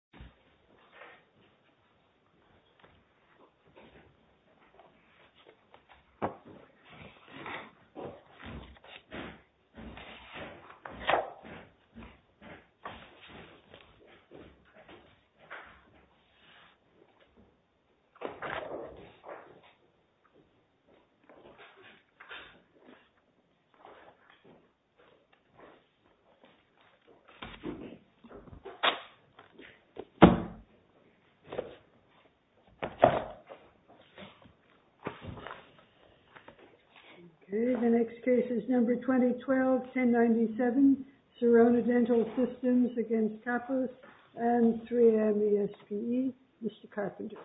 Kappos is a dentist in the United States, and he has been a member of the Kappos family for over 20 years. The next case is number 2012-1097, SIRONA DENTAL SYSTEMS v. Kappos and 3M ESPE. Mr. Carpenter.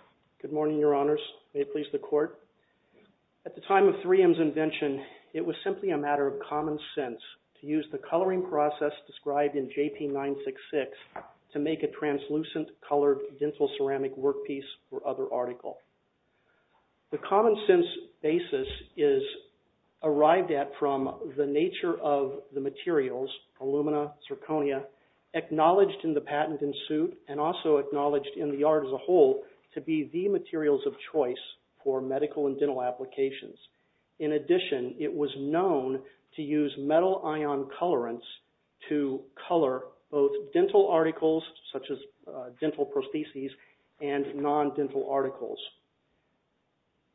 Good morning, your honors. May it please the court. At the time of 3M's invention, it was simply a matter of common sense to use the coloring process described in JP-966 to make a translucent colored dental ceramic work piece or other article. The common sense basis is arrived at from the nature of the materials, alumina, zirconia, acknowledged in the patent in suit and also acknowledged in the art as a whole to be the materials of choice for medical and dental applications. In addition, it was known to use metal ion colorants to color both dental articles, such as dental prostheses, and non-dental articles.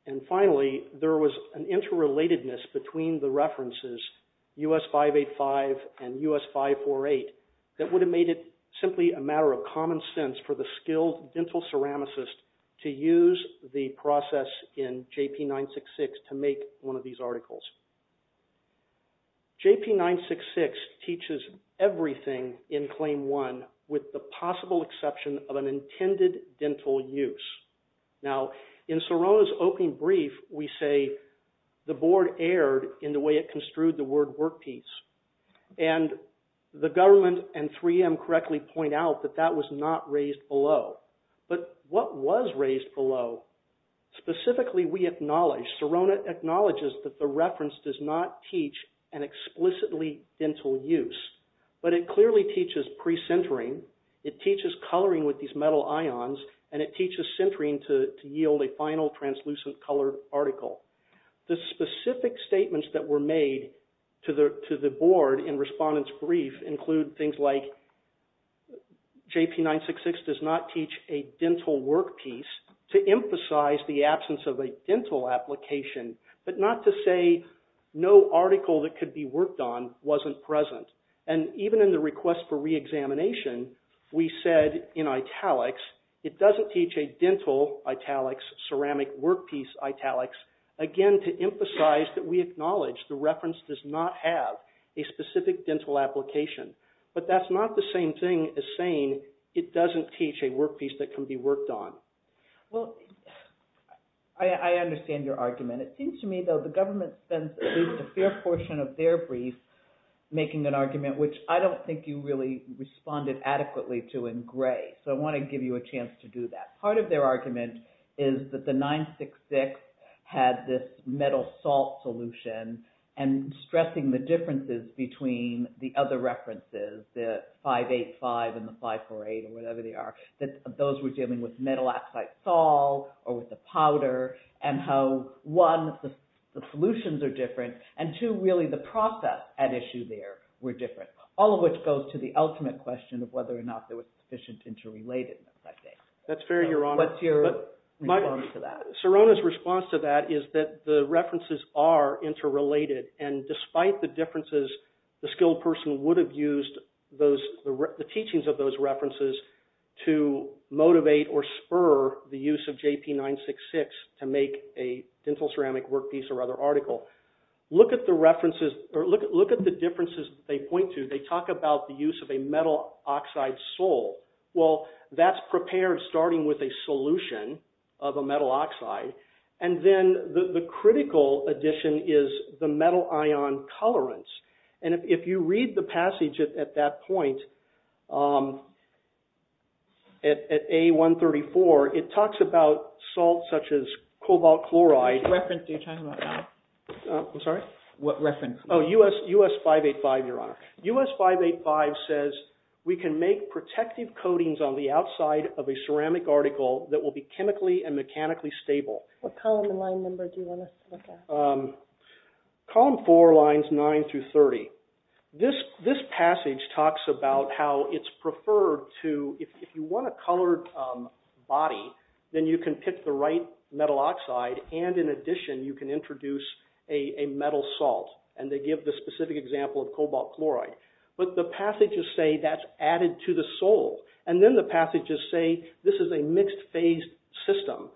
And finally, there was an interrelatedness between the references US-585 and US-548 that would have made it simply a matter of common sense for the skilled dental ceramicist to use the process in JP-966 to make one of these articles. JP-966 teaches everything in Claim 1 with the possible exception of an intended dental use. Now, in SIRONA's opening brief, we say the board erred in the way it construed the word work piece. And the government and 3M correctly point out that that was not raised below. But what was raised below, specifically we acknowledge, SIRONA acknowledges that the reference does not teach an explicitly dental use. But it clearly teaches pre-sintering, it teaches coloring with these metal ions, and it teaches sintering to yield a final translucent colored article. The specific statements that were made to the board in Respondent's brief include things like, JP-966 does not teach a dental work piece to emphasize the absence of a dental application, but not to say no article that could be worked on wasn't present. And even in the request for re-examination, we said in italics, it doesn't teach a dental italics, ceramic work piece italics, again to emphasize that we acknowledge the reference does not have a specific dental application. But that's not the same thing as saying it doesn't teach a work piece that can be worked on. Well, I understand your argument. It seems to me, though, the government spends at least a fair portion of their brief making an argument, which I don't think you really responded adequately to in gray. So I want to give you a chance to do that. Part of their argument is that the 966 had this metal salt solution, and stressing the differences between the other references, the 585 and the 548 or whatever they are, that those were dealing with metal oxide salt or with the powder, and how, one, the solutions are different, and two, really the process at issue there were different, all of which goes to the ultimate question of whether or not there was sufficient interrelatedness, I think. That's fair, Your Honor. What's your response to that? Sirona's response to that is that the references are interrelated, and despite the differences, the skilled person would have used the teachings of those references to motivate or spur the use of JP966 to make a dental ceramic work piece or other article. Look at the differences they point to. They talk about the use of a metal oxide salt. Well, that's prepared starting with a solution of a metal oxide, and then the critical addition is the metal ion colorants, and if you read the passage at that point, at A134, it talks about salt such as cobalt chloride. I'm sorry? What reference? Oh, US 585, Your Honor. US 585 says, we can make protective coatings on the outside of a ceramic article that will be chemically and mechanically stable. What column and line number do you want us to look at? Column 4, lines 9 through 30. This passage talks about how it's preferred to, if you want a colored body, then you can pick the right metal oxide, and in addition, you can introduce a metal salt, and they give the specific example of cobalt chloride. But the passages say that's added to the sole, and then the passages say this is a mixed-phase system.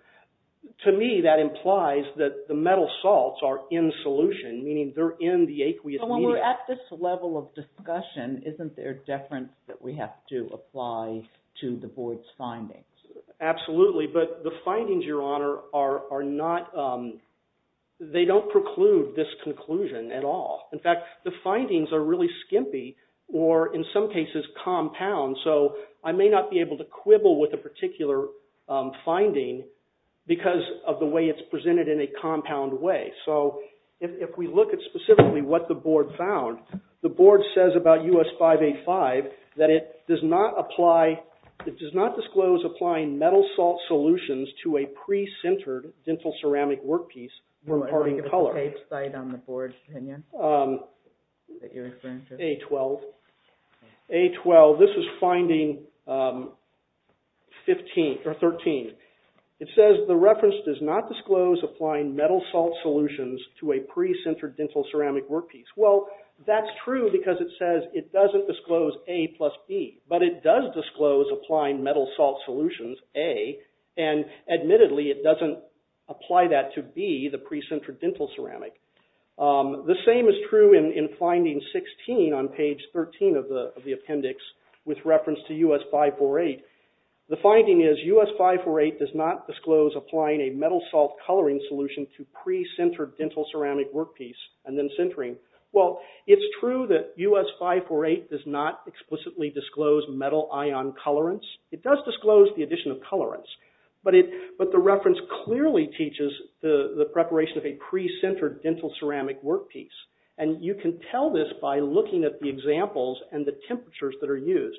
To me, that implies that the metal salts are in solution, meaning they're in the aqueous medium. So when we're at this level of discussion, isn't there deference that we have to apply to the board's findings? Absolutely, but the findings, Your Honor, are not – they don't preclude this conclusion at all. In fact, the findings are really skimpy, or in some cases, compound, so I may not be able to quibble with a particular finding because of the way it's presented in a compound way. So if we look at specifically what the board found, the board says about U.S. 585 that it does not apply – it does not disclose applying metal salt solutions to a pre-sintered dental ceramic workpiece. You want to look at the tape site on the board's opinion that you're referring to? A-12, this is finding 15 – or 13. It says the reference does not disclose applying metal salt solutions to a pre-sintered dental ceramic workpiece. Well, that's true because it says it doesn't disclose A plus B, but it does disclose applying metal salt solutions, A, and admittedly it doesn't apply that to B, the pre-sintered dental ceramic. The same is true in finding 16 on page 13 of the appendix with reference to U.S. 548. The finding is U.S. 548 does not disclose applying a metal salt coloring solution to pre-sintered dental ceramic workpiece and then sintering. Well, it's true that U.S. 548 does not explicitly disclose metal ion colorants. It does disclose the addition of colorants, but the reference clearly teaches the preparation of a pre-sintered dental ceramic workpiece. And you can tell this by looking at the examples and the temperatures that are used.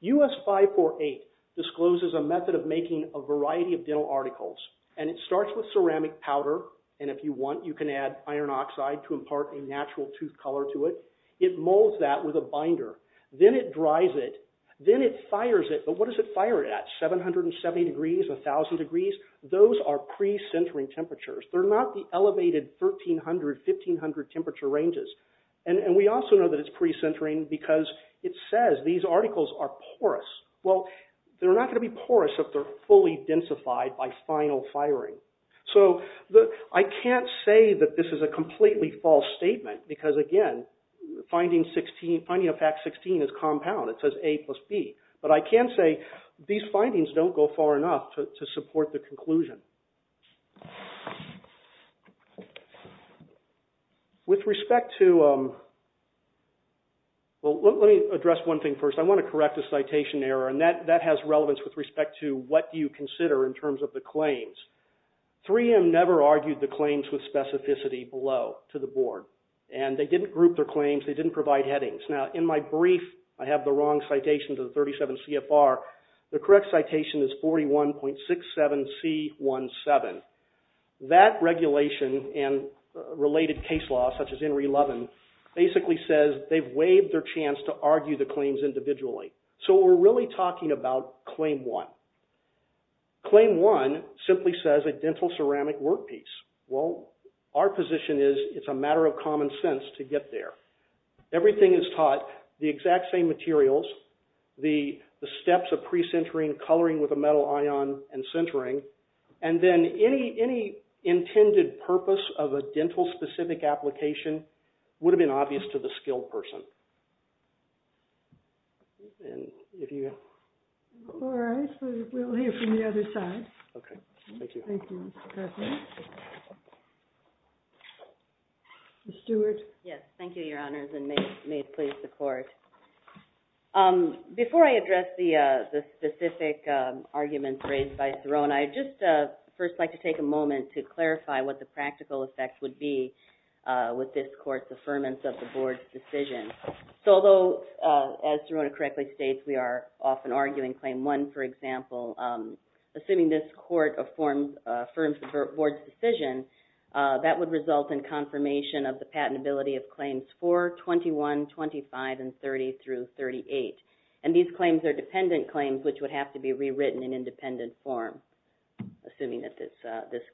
U.S. 548 discloses a method of making a variety of dental articles, and it starts with ceramic powder, and if you want you can add iron oxide to impart a natural tooth color to it. It molds that with a binder. Then it dries it. Then it fires it, but what does it fire it at, 770 degrees, 1,000 degrees? Those are pre-sintering temperatures. They're not the elevated 1,300, 1,500 temperature ranges. And we also know that it's pre-sintering because it says these articles are porous. Well, they're not going to be porous if they're fully densified by final firing. So I can't say that this is a completely false statement because, again, finding of fact 16 is compound. It says A plus B, but I can say these findings don't go far enough to support the conclusion. With respect to, well, let me address one thing first. I want to correct a citation error, and that has relevance with respect to what you consider in terms of the claims. 3M never argued the claims with specificity below to the board, and they didn't group their claims. They didn't provide headings. Now, in my brief, I have the wrong citation to the 37 CFR. The correct citation is 41.67C17. That regulation and related case law, such as Henry Levin, basically says they've waived their chance to argue the claims individually. So we're really talking about Claim 1. Claim 1 simply says a dental ceramic workpiece. Well, our position is it's a matter of common sense to get there. Everything is taught, the exact same materials, the steps of pre-sintering, coloring with a metal ion, and sintering, and then any intended purpose of a dental-specific application would have been obvious to the skilled person. And if you have... All right. We'll hear from the other side. Okay. Thank you. Thank you, Mr. Cuthbert. Ms. Stewart? Yes. Thank you, Your Honors, and may it please the Court. Before I address the specific arguments raised by Thoreau and I, I'd just first like to take a moment to clarify what the practical effect would be with this Court's affirmance of the Board's decision. So although, as Thoreau correctly states, we are often arguing Claim 1, for example, assuming this Court affirms the Board's decision, that would result in confirmation of the patentability of Claims 4, 21, 25, and 30 through 38. And these claims are dependent claims which would have to be rewritten in independent form, assuming that this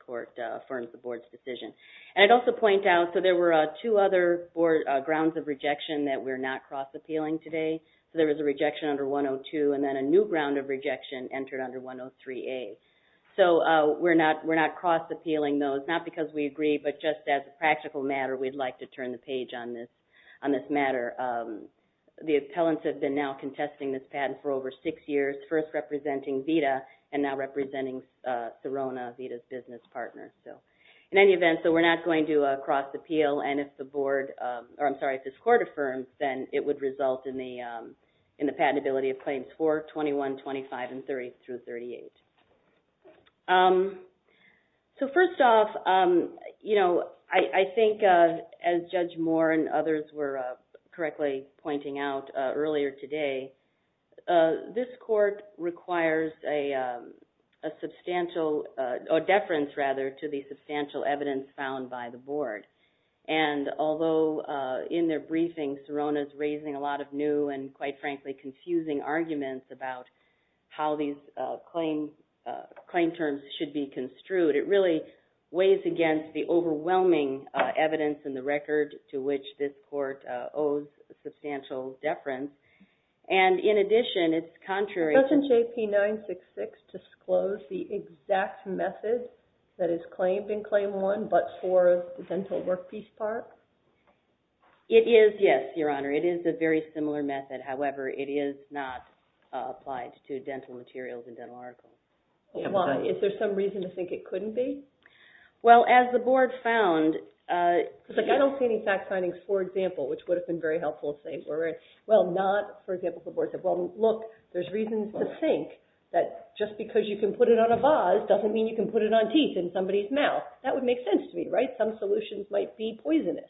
Court affirms the Board's decision. And I'd also point out, so there were two other grounds of rejection that we're not cross-appealing today. So there was a rejection under 102, and then a new ground of rejection entered under 103A. So we're not cross-appealing those, not because we agree, but just as a practical matter, we'd like to turn the page on this matter. The appellants have been now contesting this patent for over six years, first representing VITA and now representing Sirona, VITA's business partner. In any event, so we're not going to cross-appeal, and if this Court affirms, then it would result in the patentability of Claims 4, 21, 25, and 30 through 38. So first off, you know, I think as Judge Moore and others were correctly pointing out earlier today, this Court requires a substantial, a deference rather, to the substantial evidence found by the Board. And although in their briefing, Sirona's raising a lot of new and quite frankly confusing arguments about how these claim terms should be construed, it really weighs against the overwhelming evidence in the record to which this Court owes a substantial deference. And in addition, it's contrary to... Doesn't JP-966 disclose the exact method that is claimed in Claim 1 but for the dental workpiece part? It is, yes, Your Honor. It is a very similar method. However, it is not applied to dental materials and dental articles. Why? Is there some reason to think it couldn't be? Well, as the Board found, like I don't see any fact findings, for example, which would have been very helpful if they were. Well, not, for example, if the Board said, well, look, there's reasons to think that just because you can put it on a vase doesn't mean you can put it on teeth in somebody's mouth. That would make sense to me, right? Some solutions might be poisonous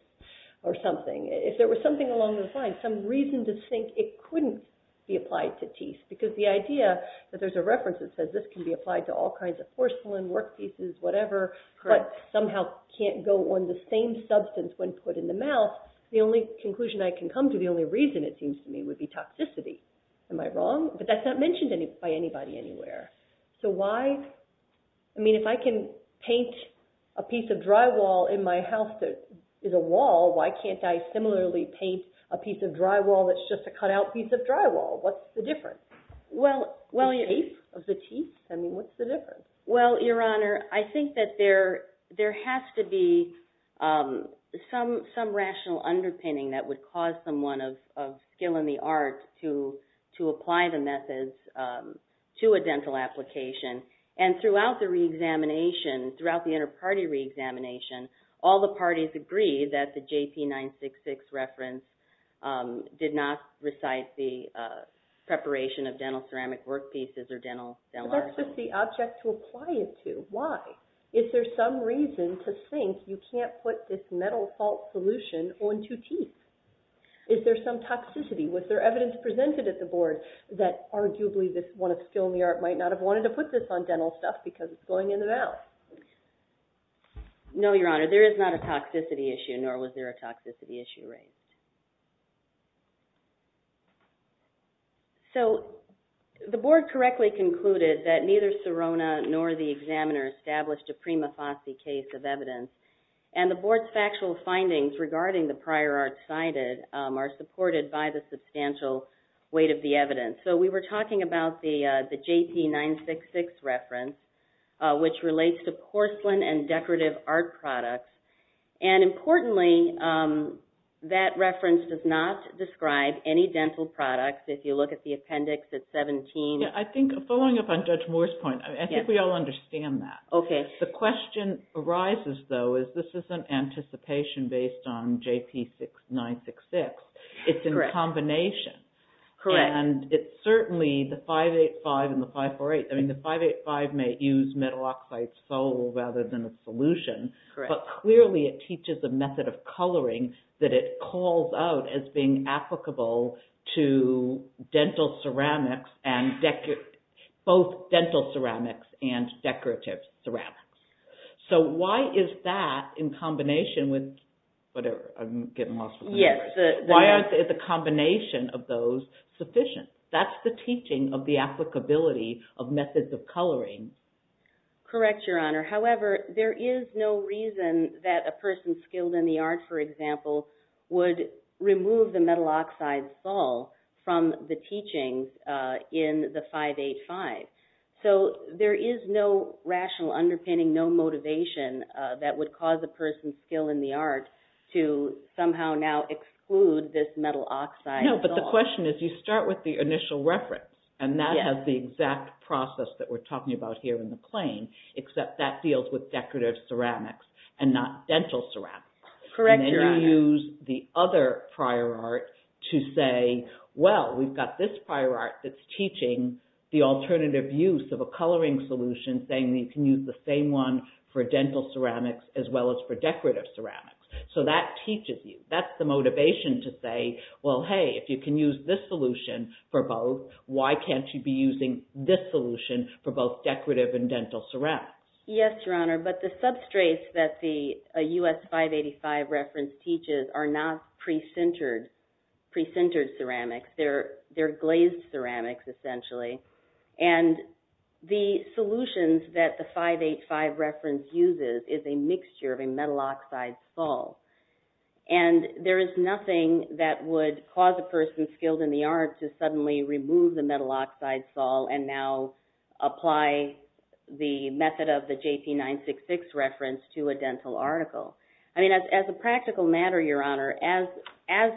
or something. If there was something along those lines, some reason to think it couldn't be applied to teeth, because the idea that there's a reference that says this can be applied to all kinds of porcelain, workpieces, whatever, but somehow can't go on the same substance when put in the mouth, the only conclusion I can come to, the only reason it seems to me, would be toxicity. Am I wrong? But that's not mentioned by anybody anywhere. So why? I mean, if I can paint a piece of drywall in my house that is a wall, why can't I similarly paint a piece of drywall that's just a cutout piece of drywall? What's the difference? The teeth? I mean, what's the difference? Well, Your Honor, I think that there has to be some rational underpinning that would cause someone of skill in the arts to apply the methods to a dental application. And throughout the re-examination, throughout the inter-party re-examination, all the parties agreed that the JT 966 reference did not recite the preparation of dental ceramic workpieces or dental artwork. But that's just the object to apply it to. Why? Is there some reason to think you can't put this metal fault solution onto teeth? Is there some toxicity? Was there evidence presented at the Board that arguably this one of skill in the art might not have wanted to put this on dental stuff because it's going in the mouth? No, Your Honor. There is not a toxicity issue, nor was there a toxicity issue raised. So, the Board correctly concluded that neither Serona nor the examiner established a prima facie case of evidence. And the Board's factual findings regarding the prior art cited are supported by the substantial weight of the evidence. So, we were talking about the JT 966 reference, which relates to porcelain and decorative art products. And importantly, that reference does not describe any dental products. If you look at the appendix, it's 17. I think, following up on Judge Moore's point, I think we all understand that. Okay. The question arises, though, is this isn't anticipation based on JP 966. It's in combination. Correct. And it's certainly the 585 and the 548. I mean, the 585 may use metal oxide sole rather than a solution. Correct. But clearly, it teaches a method of coloring that it calls out as being applicable to both dental ceramics and decorative ceramics. So, why is that in combination with whatever? I'm getting lost. Yes. Why aren't the combination of those sufficient? That's the teaching of the applicability of methods of coloring. Correct, Your Honor. However, there is no reason that a person skilled in the art, for example, would remove the metal oxide sole from the teachings in the 585. So, there is no rational underpinning, no motivation that would cause a person skilled in the art to somehow now exclude this metal oxide sole. No, but the question is, you start with the initial reference, and that has the exact process that we're talking about here in the claim, except that deals with decorative ceramics and not dental ceramics. Correct, Your Honor. And then you use the other prior art to say, well, we've got this prior art that's teaching the alternative use of a coloring solution, saying that you can use the same one for dental ceramics as well as for decorative ceramics. So, that teaches you. That's the motivation to say, well, hey, if you can use this solution for both, why can't you be using this solution for both decorative and dental ceramics? Yes, Your Honor, but the substrates that the US 585 reference teaches are not pre-sintered ceramics. They're glazed ceramics, essentially. And the solutions that the 585 reference uses is a mixture of a metal oxide sole, and there is nothing that would cause a person skilled in the art to suddenly remove the metal oxide sole and now apply the method of the JP 966 reference to a dental article. As a practical matter, Your Honor, as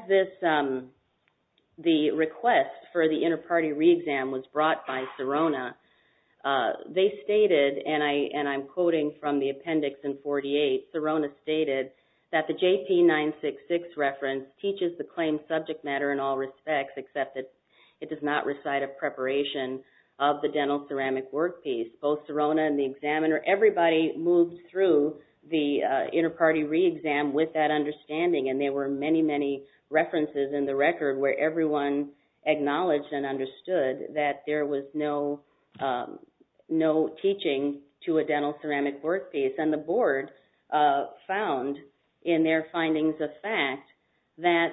the request for the inter-party re-exam was brought by Serona, they stated, and I'm quoting from the appendix in 48, Serona stated that the JP 966 reference teaches the claim subject matter in all respects, except that it does not recite a preparation of the dental ceramic work piece. Both Serona and the examiner, everybody moved through the inter-party re-exam with that understanding, and there were many, many references in the record where everyone acknowledged and understood that there was no teaching to a dental ceramic work piece. And the board found in their findings of fact that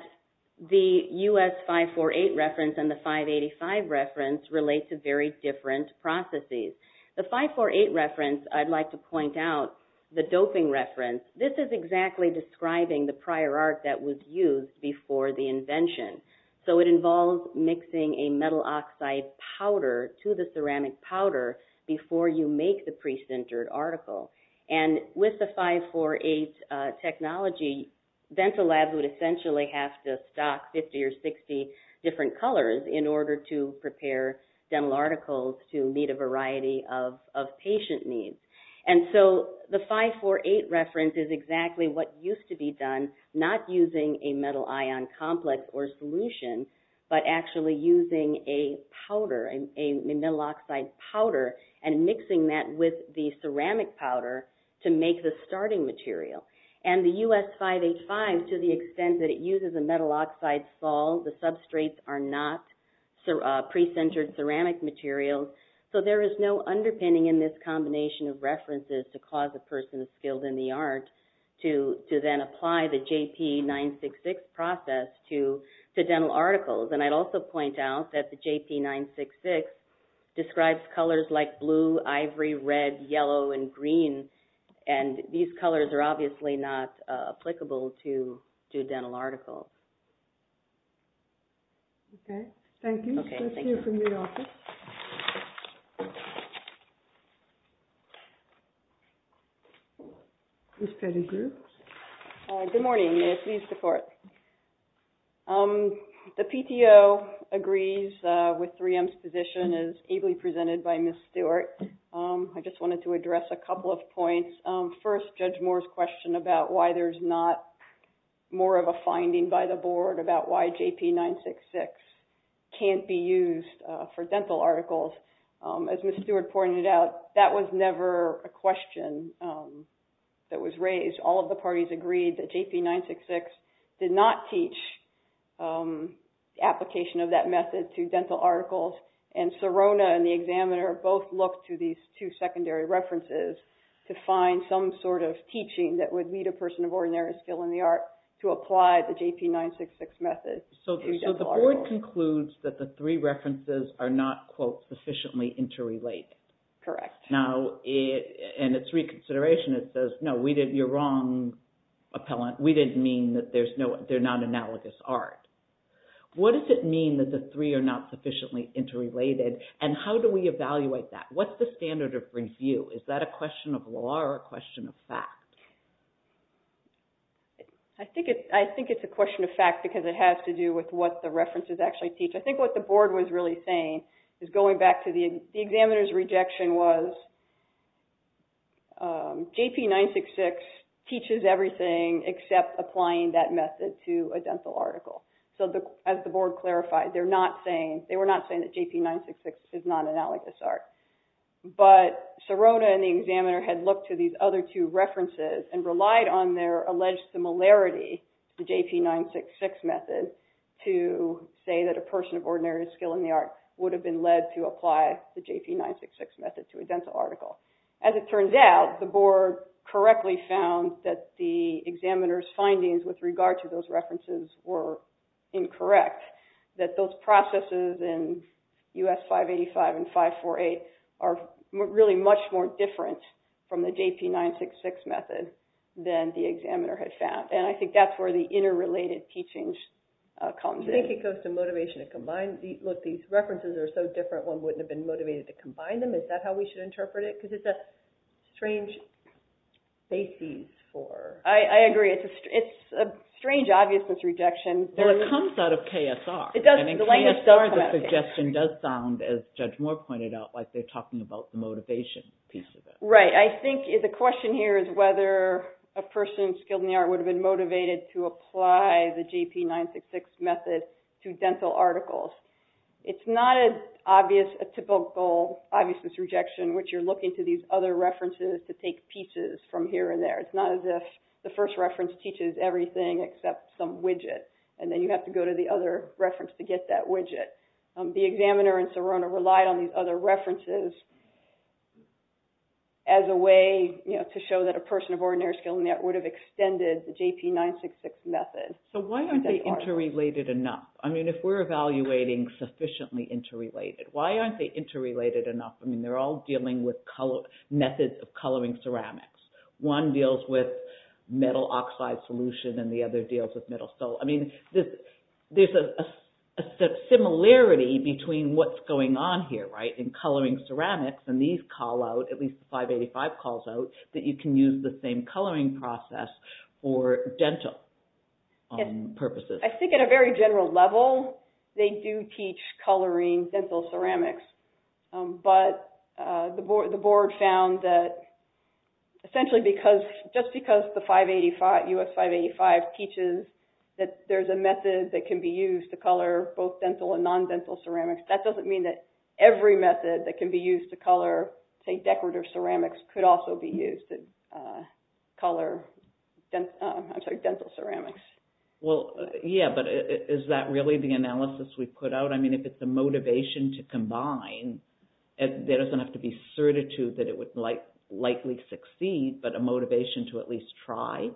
the US 548 reference and the 585 reference relate to very different processes. The 548 reference, I'd like to point out, the doping reference, this is exactly describing the prior art that was used before the invention. So it involves mixing a metal oxide powder to the ceramic powder before you make the pre-sintered article. And with the 548 technology, dental labs would essentially have to stock 50 or 60 different colors in order to prepare dental articles to meet a variety of patient needs. And so the 548 reference is exactly what used to be done, not using a metal ion complex or solution, but actually using a powder, a metal oxide powder, and mixing that with the ceramic powder to make the starting material. And the US 585, to the extent that it uses a metal oxide sol, the substrates are not pre-sintered ceramic materials, so there is no underpinning in this combination of references to cause a person skilled in the art to then apply the JP 966 process to dental articles. And I'd also point out that the JP 966 describes colors like blue, ivory, red, yellow, and green, and these colors are obviously not applicable to dental articles. Okay, thank you. Let's hear from the office. Ms. Pettigrew? Good morning. The PTO agrees with 3M's position as ably presented by Ms. Stewart. I just wanted to address a couple of points. First, Judge Moore's question about why there's not more of a finding by the board about why JP 966 can't be used for dental articles. As Ms. Stewart pointed out, that was never a question that was raised. All of the parties agreed that JP 966 did not teach the application of that method to dental articles, and Serona and the examiner both looked to these two secondary references to find some sort of teaching that would meet a person of ordinary skill in the art to apply the JP 966 method to dental articles. The board concludes that the three references are not, quote, sufficiently interrelated. Correct. Now, in its reconsideration, it says, no, you're wrong, appellant. We didn't mean that they're not analogous art. What does it mean that the three are not sufficiently interrelated, and how do we evaluate that? What's the standard of review? Is that a question of law or a question of fact? I think it's a question of fact because it has to do with what the references actually teach. I think what the board was really saying is going back to the examiner's rejection was JP 966 teaches everything except applying that method to a dental article. As the board clarified, they were not saying that JP 966 is not analogous art, but Serona and the examiner had looked to these other two references and relied on their alleged similarity, the JP 966 method, to say that a person of ordinary skill in the art would have been led to apply the JP 966 method to a dental article. As it turns out, the board correctly found that the examiner's findings with regard to those references were incorrect, that those processes in US 585 and 548 are really much more different from the JP 966 method than the examiner had found. And I think that's where the interrelated teachings comes in. I think it goes to motivation to combine. Look, these references are so different, one wouldn't have been motivated to combine them. Is that how we should interpret it? Because it's a strange basis for... I agree. It's a strange obviousness rejection. Well, it comes out of KSR. The language does come out of KSR. And in KSR, the suggestion does sound, as Judge Moore pointed out, like they're talking about the motivation piece of it. Right. I think the question here is whether a person skilled in the art would have been motivated to apply the JP 966 method to dental articles. It's not a typical obviousness rejection, which you're looking to these other references to take pieces from here and there. It's not as if the first reference teaches everything except some widget, and then you have to go to the other reference to get that widget. The examiner and Sorona relied on these other references as a way to show that a person of ordinary skill would have extended the JP 966 method. So why aren't they interrelated enough? I mean, if we're evaluating sufficiently interrelated, why aren't they interrelated enough? I mean, they're all dealing with methods of coloring ceramics. One deals with metal oxide solution, and the other deals with metal. So, I mean, there's a similarity between what's going on here, right? In coloring ceramics, and these call out, at least the 585 calls out, that you can use the same coloring process for dental purposes. I think at a very general level, they do teach coloring dental ceramics, but the board found that essentially just because the US 585 teaches that there's a method that can be used to color both dental and non-dental ceramics, that doesn't mean that every method that can be used to color, say, decorative ceramics, could also be used to color dental ceramics. Well, yeah, but is that really the analysis we put out? I mean, if it's a motivation to combine, there doesn't have to be certitude that it would likely succeed, but a motivation to at least try?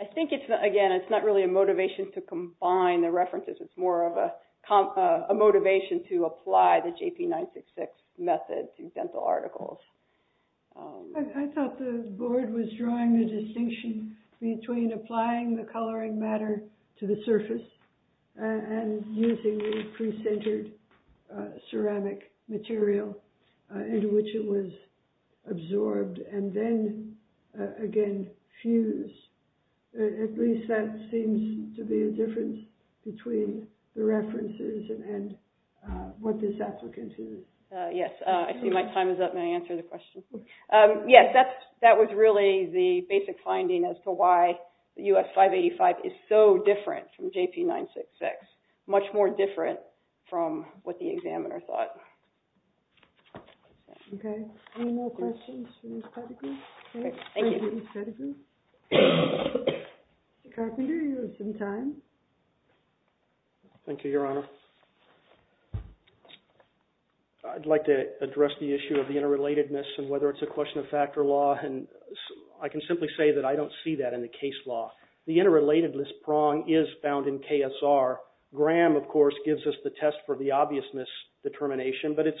I think, again, it's not really a motivation to combine the references. It's more of a motivation to apply the JP966 method to dental articles. I thought the board was drawing the distinction between applying the coloring matter to the surface and using the pre-centered ceramic material in which it was absorbed and then, again, fused. At least that seems to be a difference between the references and what this applicant used. Yes, I see my time is up. May I answer the question? Yes, that was really the basic finding as to why the US 585 is so different from JP966, much more different from what the examiner thought. Okay, any more questions for Ms. Pettigrew? Thank you, Ms. Pettigrew. Mr. Carpenter, you have some time. Thank you, Your Honor. I'd like to address the issue of the interrelatedness and whether it's a question of fact or law, and I can simply say that I don't see that in the case law. The interrelatedness prong is found in KSR. Graham, of course, gives us the test for the obviousness determination, but it's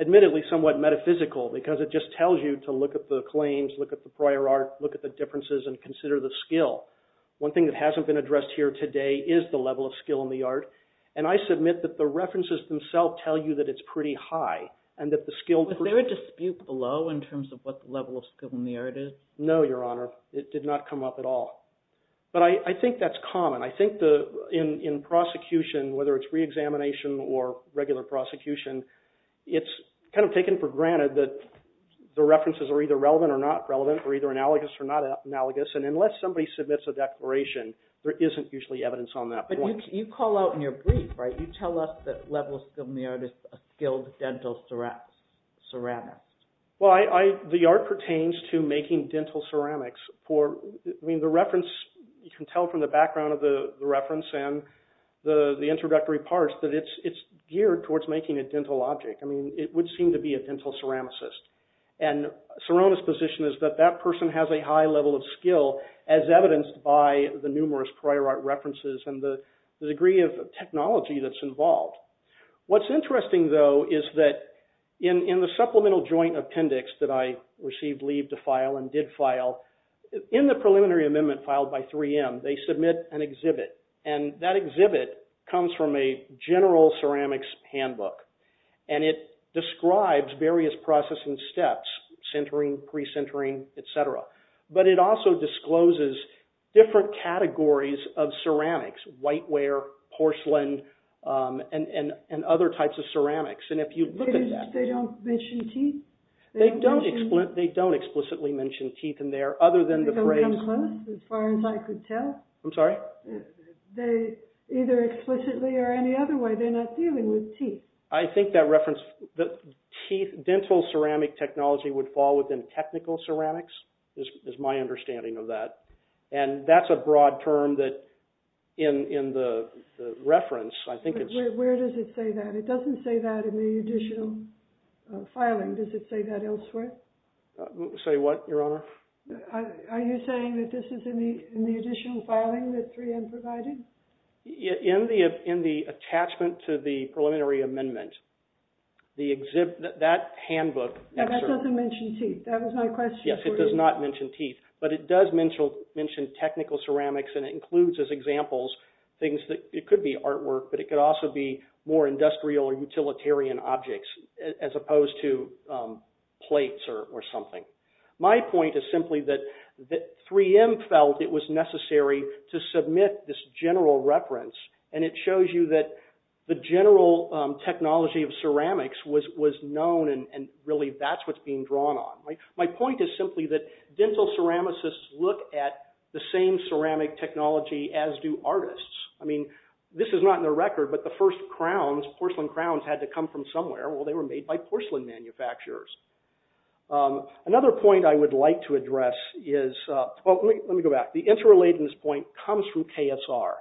admittedly somewhat metaphysical because it just tells you to look at the claims, look at the prior art, look at the differences, and consider the skill. One thing that hasn't been addressed here today is the level of skill in the art, and I submit that the references themselves tell you that it's pretty high. Was there a dispute below in terms of what the level of skill in the art is? No, Your Honor. It did not come up at all. But I think that's common. I think in prosecution, whether it's reexamination or regular prosecution, it's kind of taken for granted that the references are either relevant or not relevant or either analogous or not analogous, and unless somebody submits a declaration, there isn't usually evidence on that point. But you call out in your brief, right, you tell us that the level of skill in the art is a skilled dental ceramist. Well, the art pertains to making dental ceramics. You can tell from the background of the reference and the introductory parts that it's geared towards making a dental object. I mean, it would seem to be a dental ceramicist, and Sirona's position is that that person has a high level of skill as evidenced by the numerous prior art references and the degree of technology that's involved. What's interesting, though, is that in the supplemental joint appendix that I received leave to file and did file, in the preliminary amendment filed by 3M, they submit an exhibit, and that exhibit comes from a general ceramics handbook, and it describes various processing steps, sintering, pre-sintering, et cetera. But it also discloses different categories of ceramics, whiteware, porcelain, and other types of ceramics, and if you look at that… They don't mention teeth? They don't explicitly mention teeth in there, other than the phrase… They don't come close, as far as I could tell? I'm sorry? They either explicitly or any other way, they're not dealing with teeth. I think that dental ceramic technology would fall within technical ceramics, is my understanding of that, and that's a broad term in the reference. Where does it say that? It doesn't say that in the additional filing. Does it say that elsewhere? Say what, Your Honor? Are you saying that this is in the additional filing that 3M provided? In the attachment to the preliminary amendment, that handbook… That doesn't mention teeth, that was my question. Yes, it does not mention teeth, but it does mention technical ceramics, and it includes, as examples, things that… It could be artwork, but it could also be more industrial or utilitarian objects, as opposed to plates or something. My point is simply that 3M felt it was necessary to submit this general reference, and it shows you that the general technology of ceramics was known, and really, that's what's being drawn on. My point is simply that dental ceramicists look at the same ceramic technology as do artists. I mean, this is not in the record, but the first crowns, porcelain crowns, had to come from somewhere. Well, they were made by porcelain manufacturers. Another point I would like to address is… Well, let me go back. The interrelatedness point comes from KSR.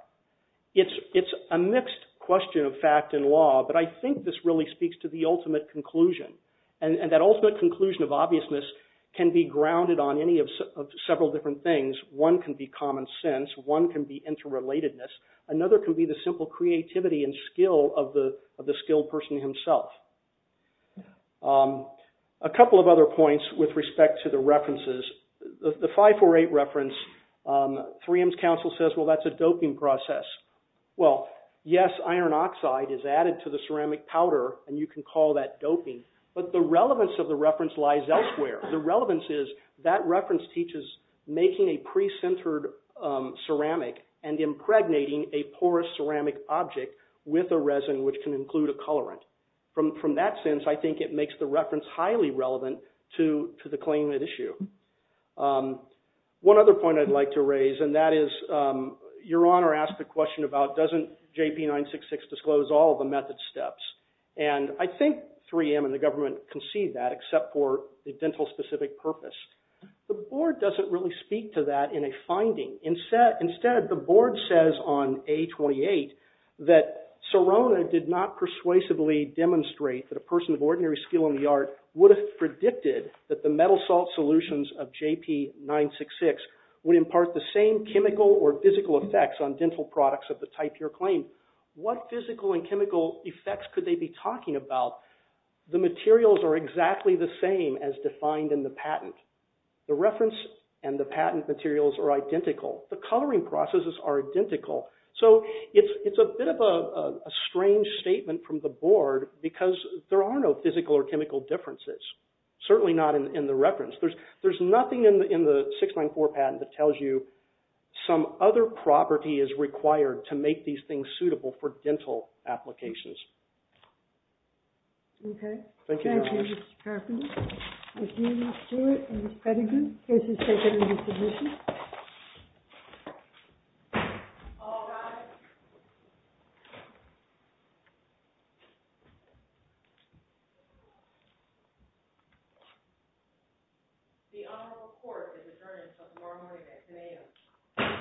It's a mixed question of fact and law, but I think this really speaks to the ultimate conclusion, and that ultimate conclusion of obviousness can be grounded on several different things. One can be common sense. One can be interrelatedness. Another can be the simple creativity and skill of the skilled person himself. A couple of other points with respect to the references. The 548 reference, 3M's counsel says, well, that's a doping process. Well, yes, iron oxide is added to the ceramic powder, and you can call that doping, but the relevance of the reference lies elsewhere. The relevance is that reference teaches making a pre-centered ceramic and impregnating a porous ceramic object with a resin, which can include a colorant. From that sense, I think it makes the reference highly relevant to the claimant issue. One other point I'd like to raise, and that is your Honor asked the question about doesn't JP-966 disclose all of the method steps, and I think 3M and the government can see that except for the dental-specific purpose. The board doesn't really speak to that in a finding. Instead, the board says on A-28 that Serona did not persuasively demonstrate that a person of ordinary skill in the art would have predicted that the metal salt solutions of JP-966 would impart the same chemical or physical effects on dental products of the type you're claiming. What physical and chemical effects could they be talking about? The materials are exactly the same as defined in the patent. The reference and the patent materials are identical. The coloring processes are identical. So, it's a bit of a strange statement from the board because there are no physical or chemical differences, certainly not in the reference. There's nothing in the 694 patent that tells you some other property is required to make these things suitable for dental applications. Okay. Thank you, Your Honors. Thank you, Mr. Carpenter. Thank you, Ms. Stewart and Ms. Peddington. Cases taken in this division. All rise. The Honorable Court is adjourned until tomorrow morning at 10 a.m. Thank you. Thank you. Okay.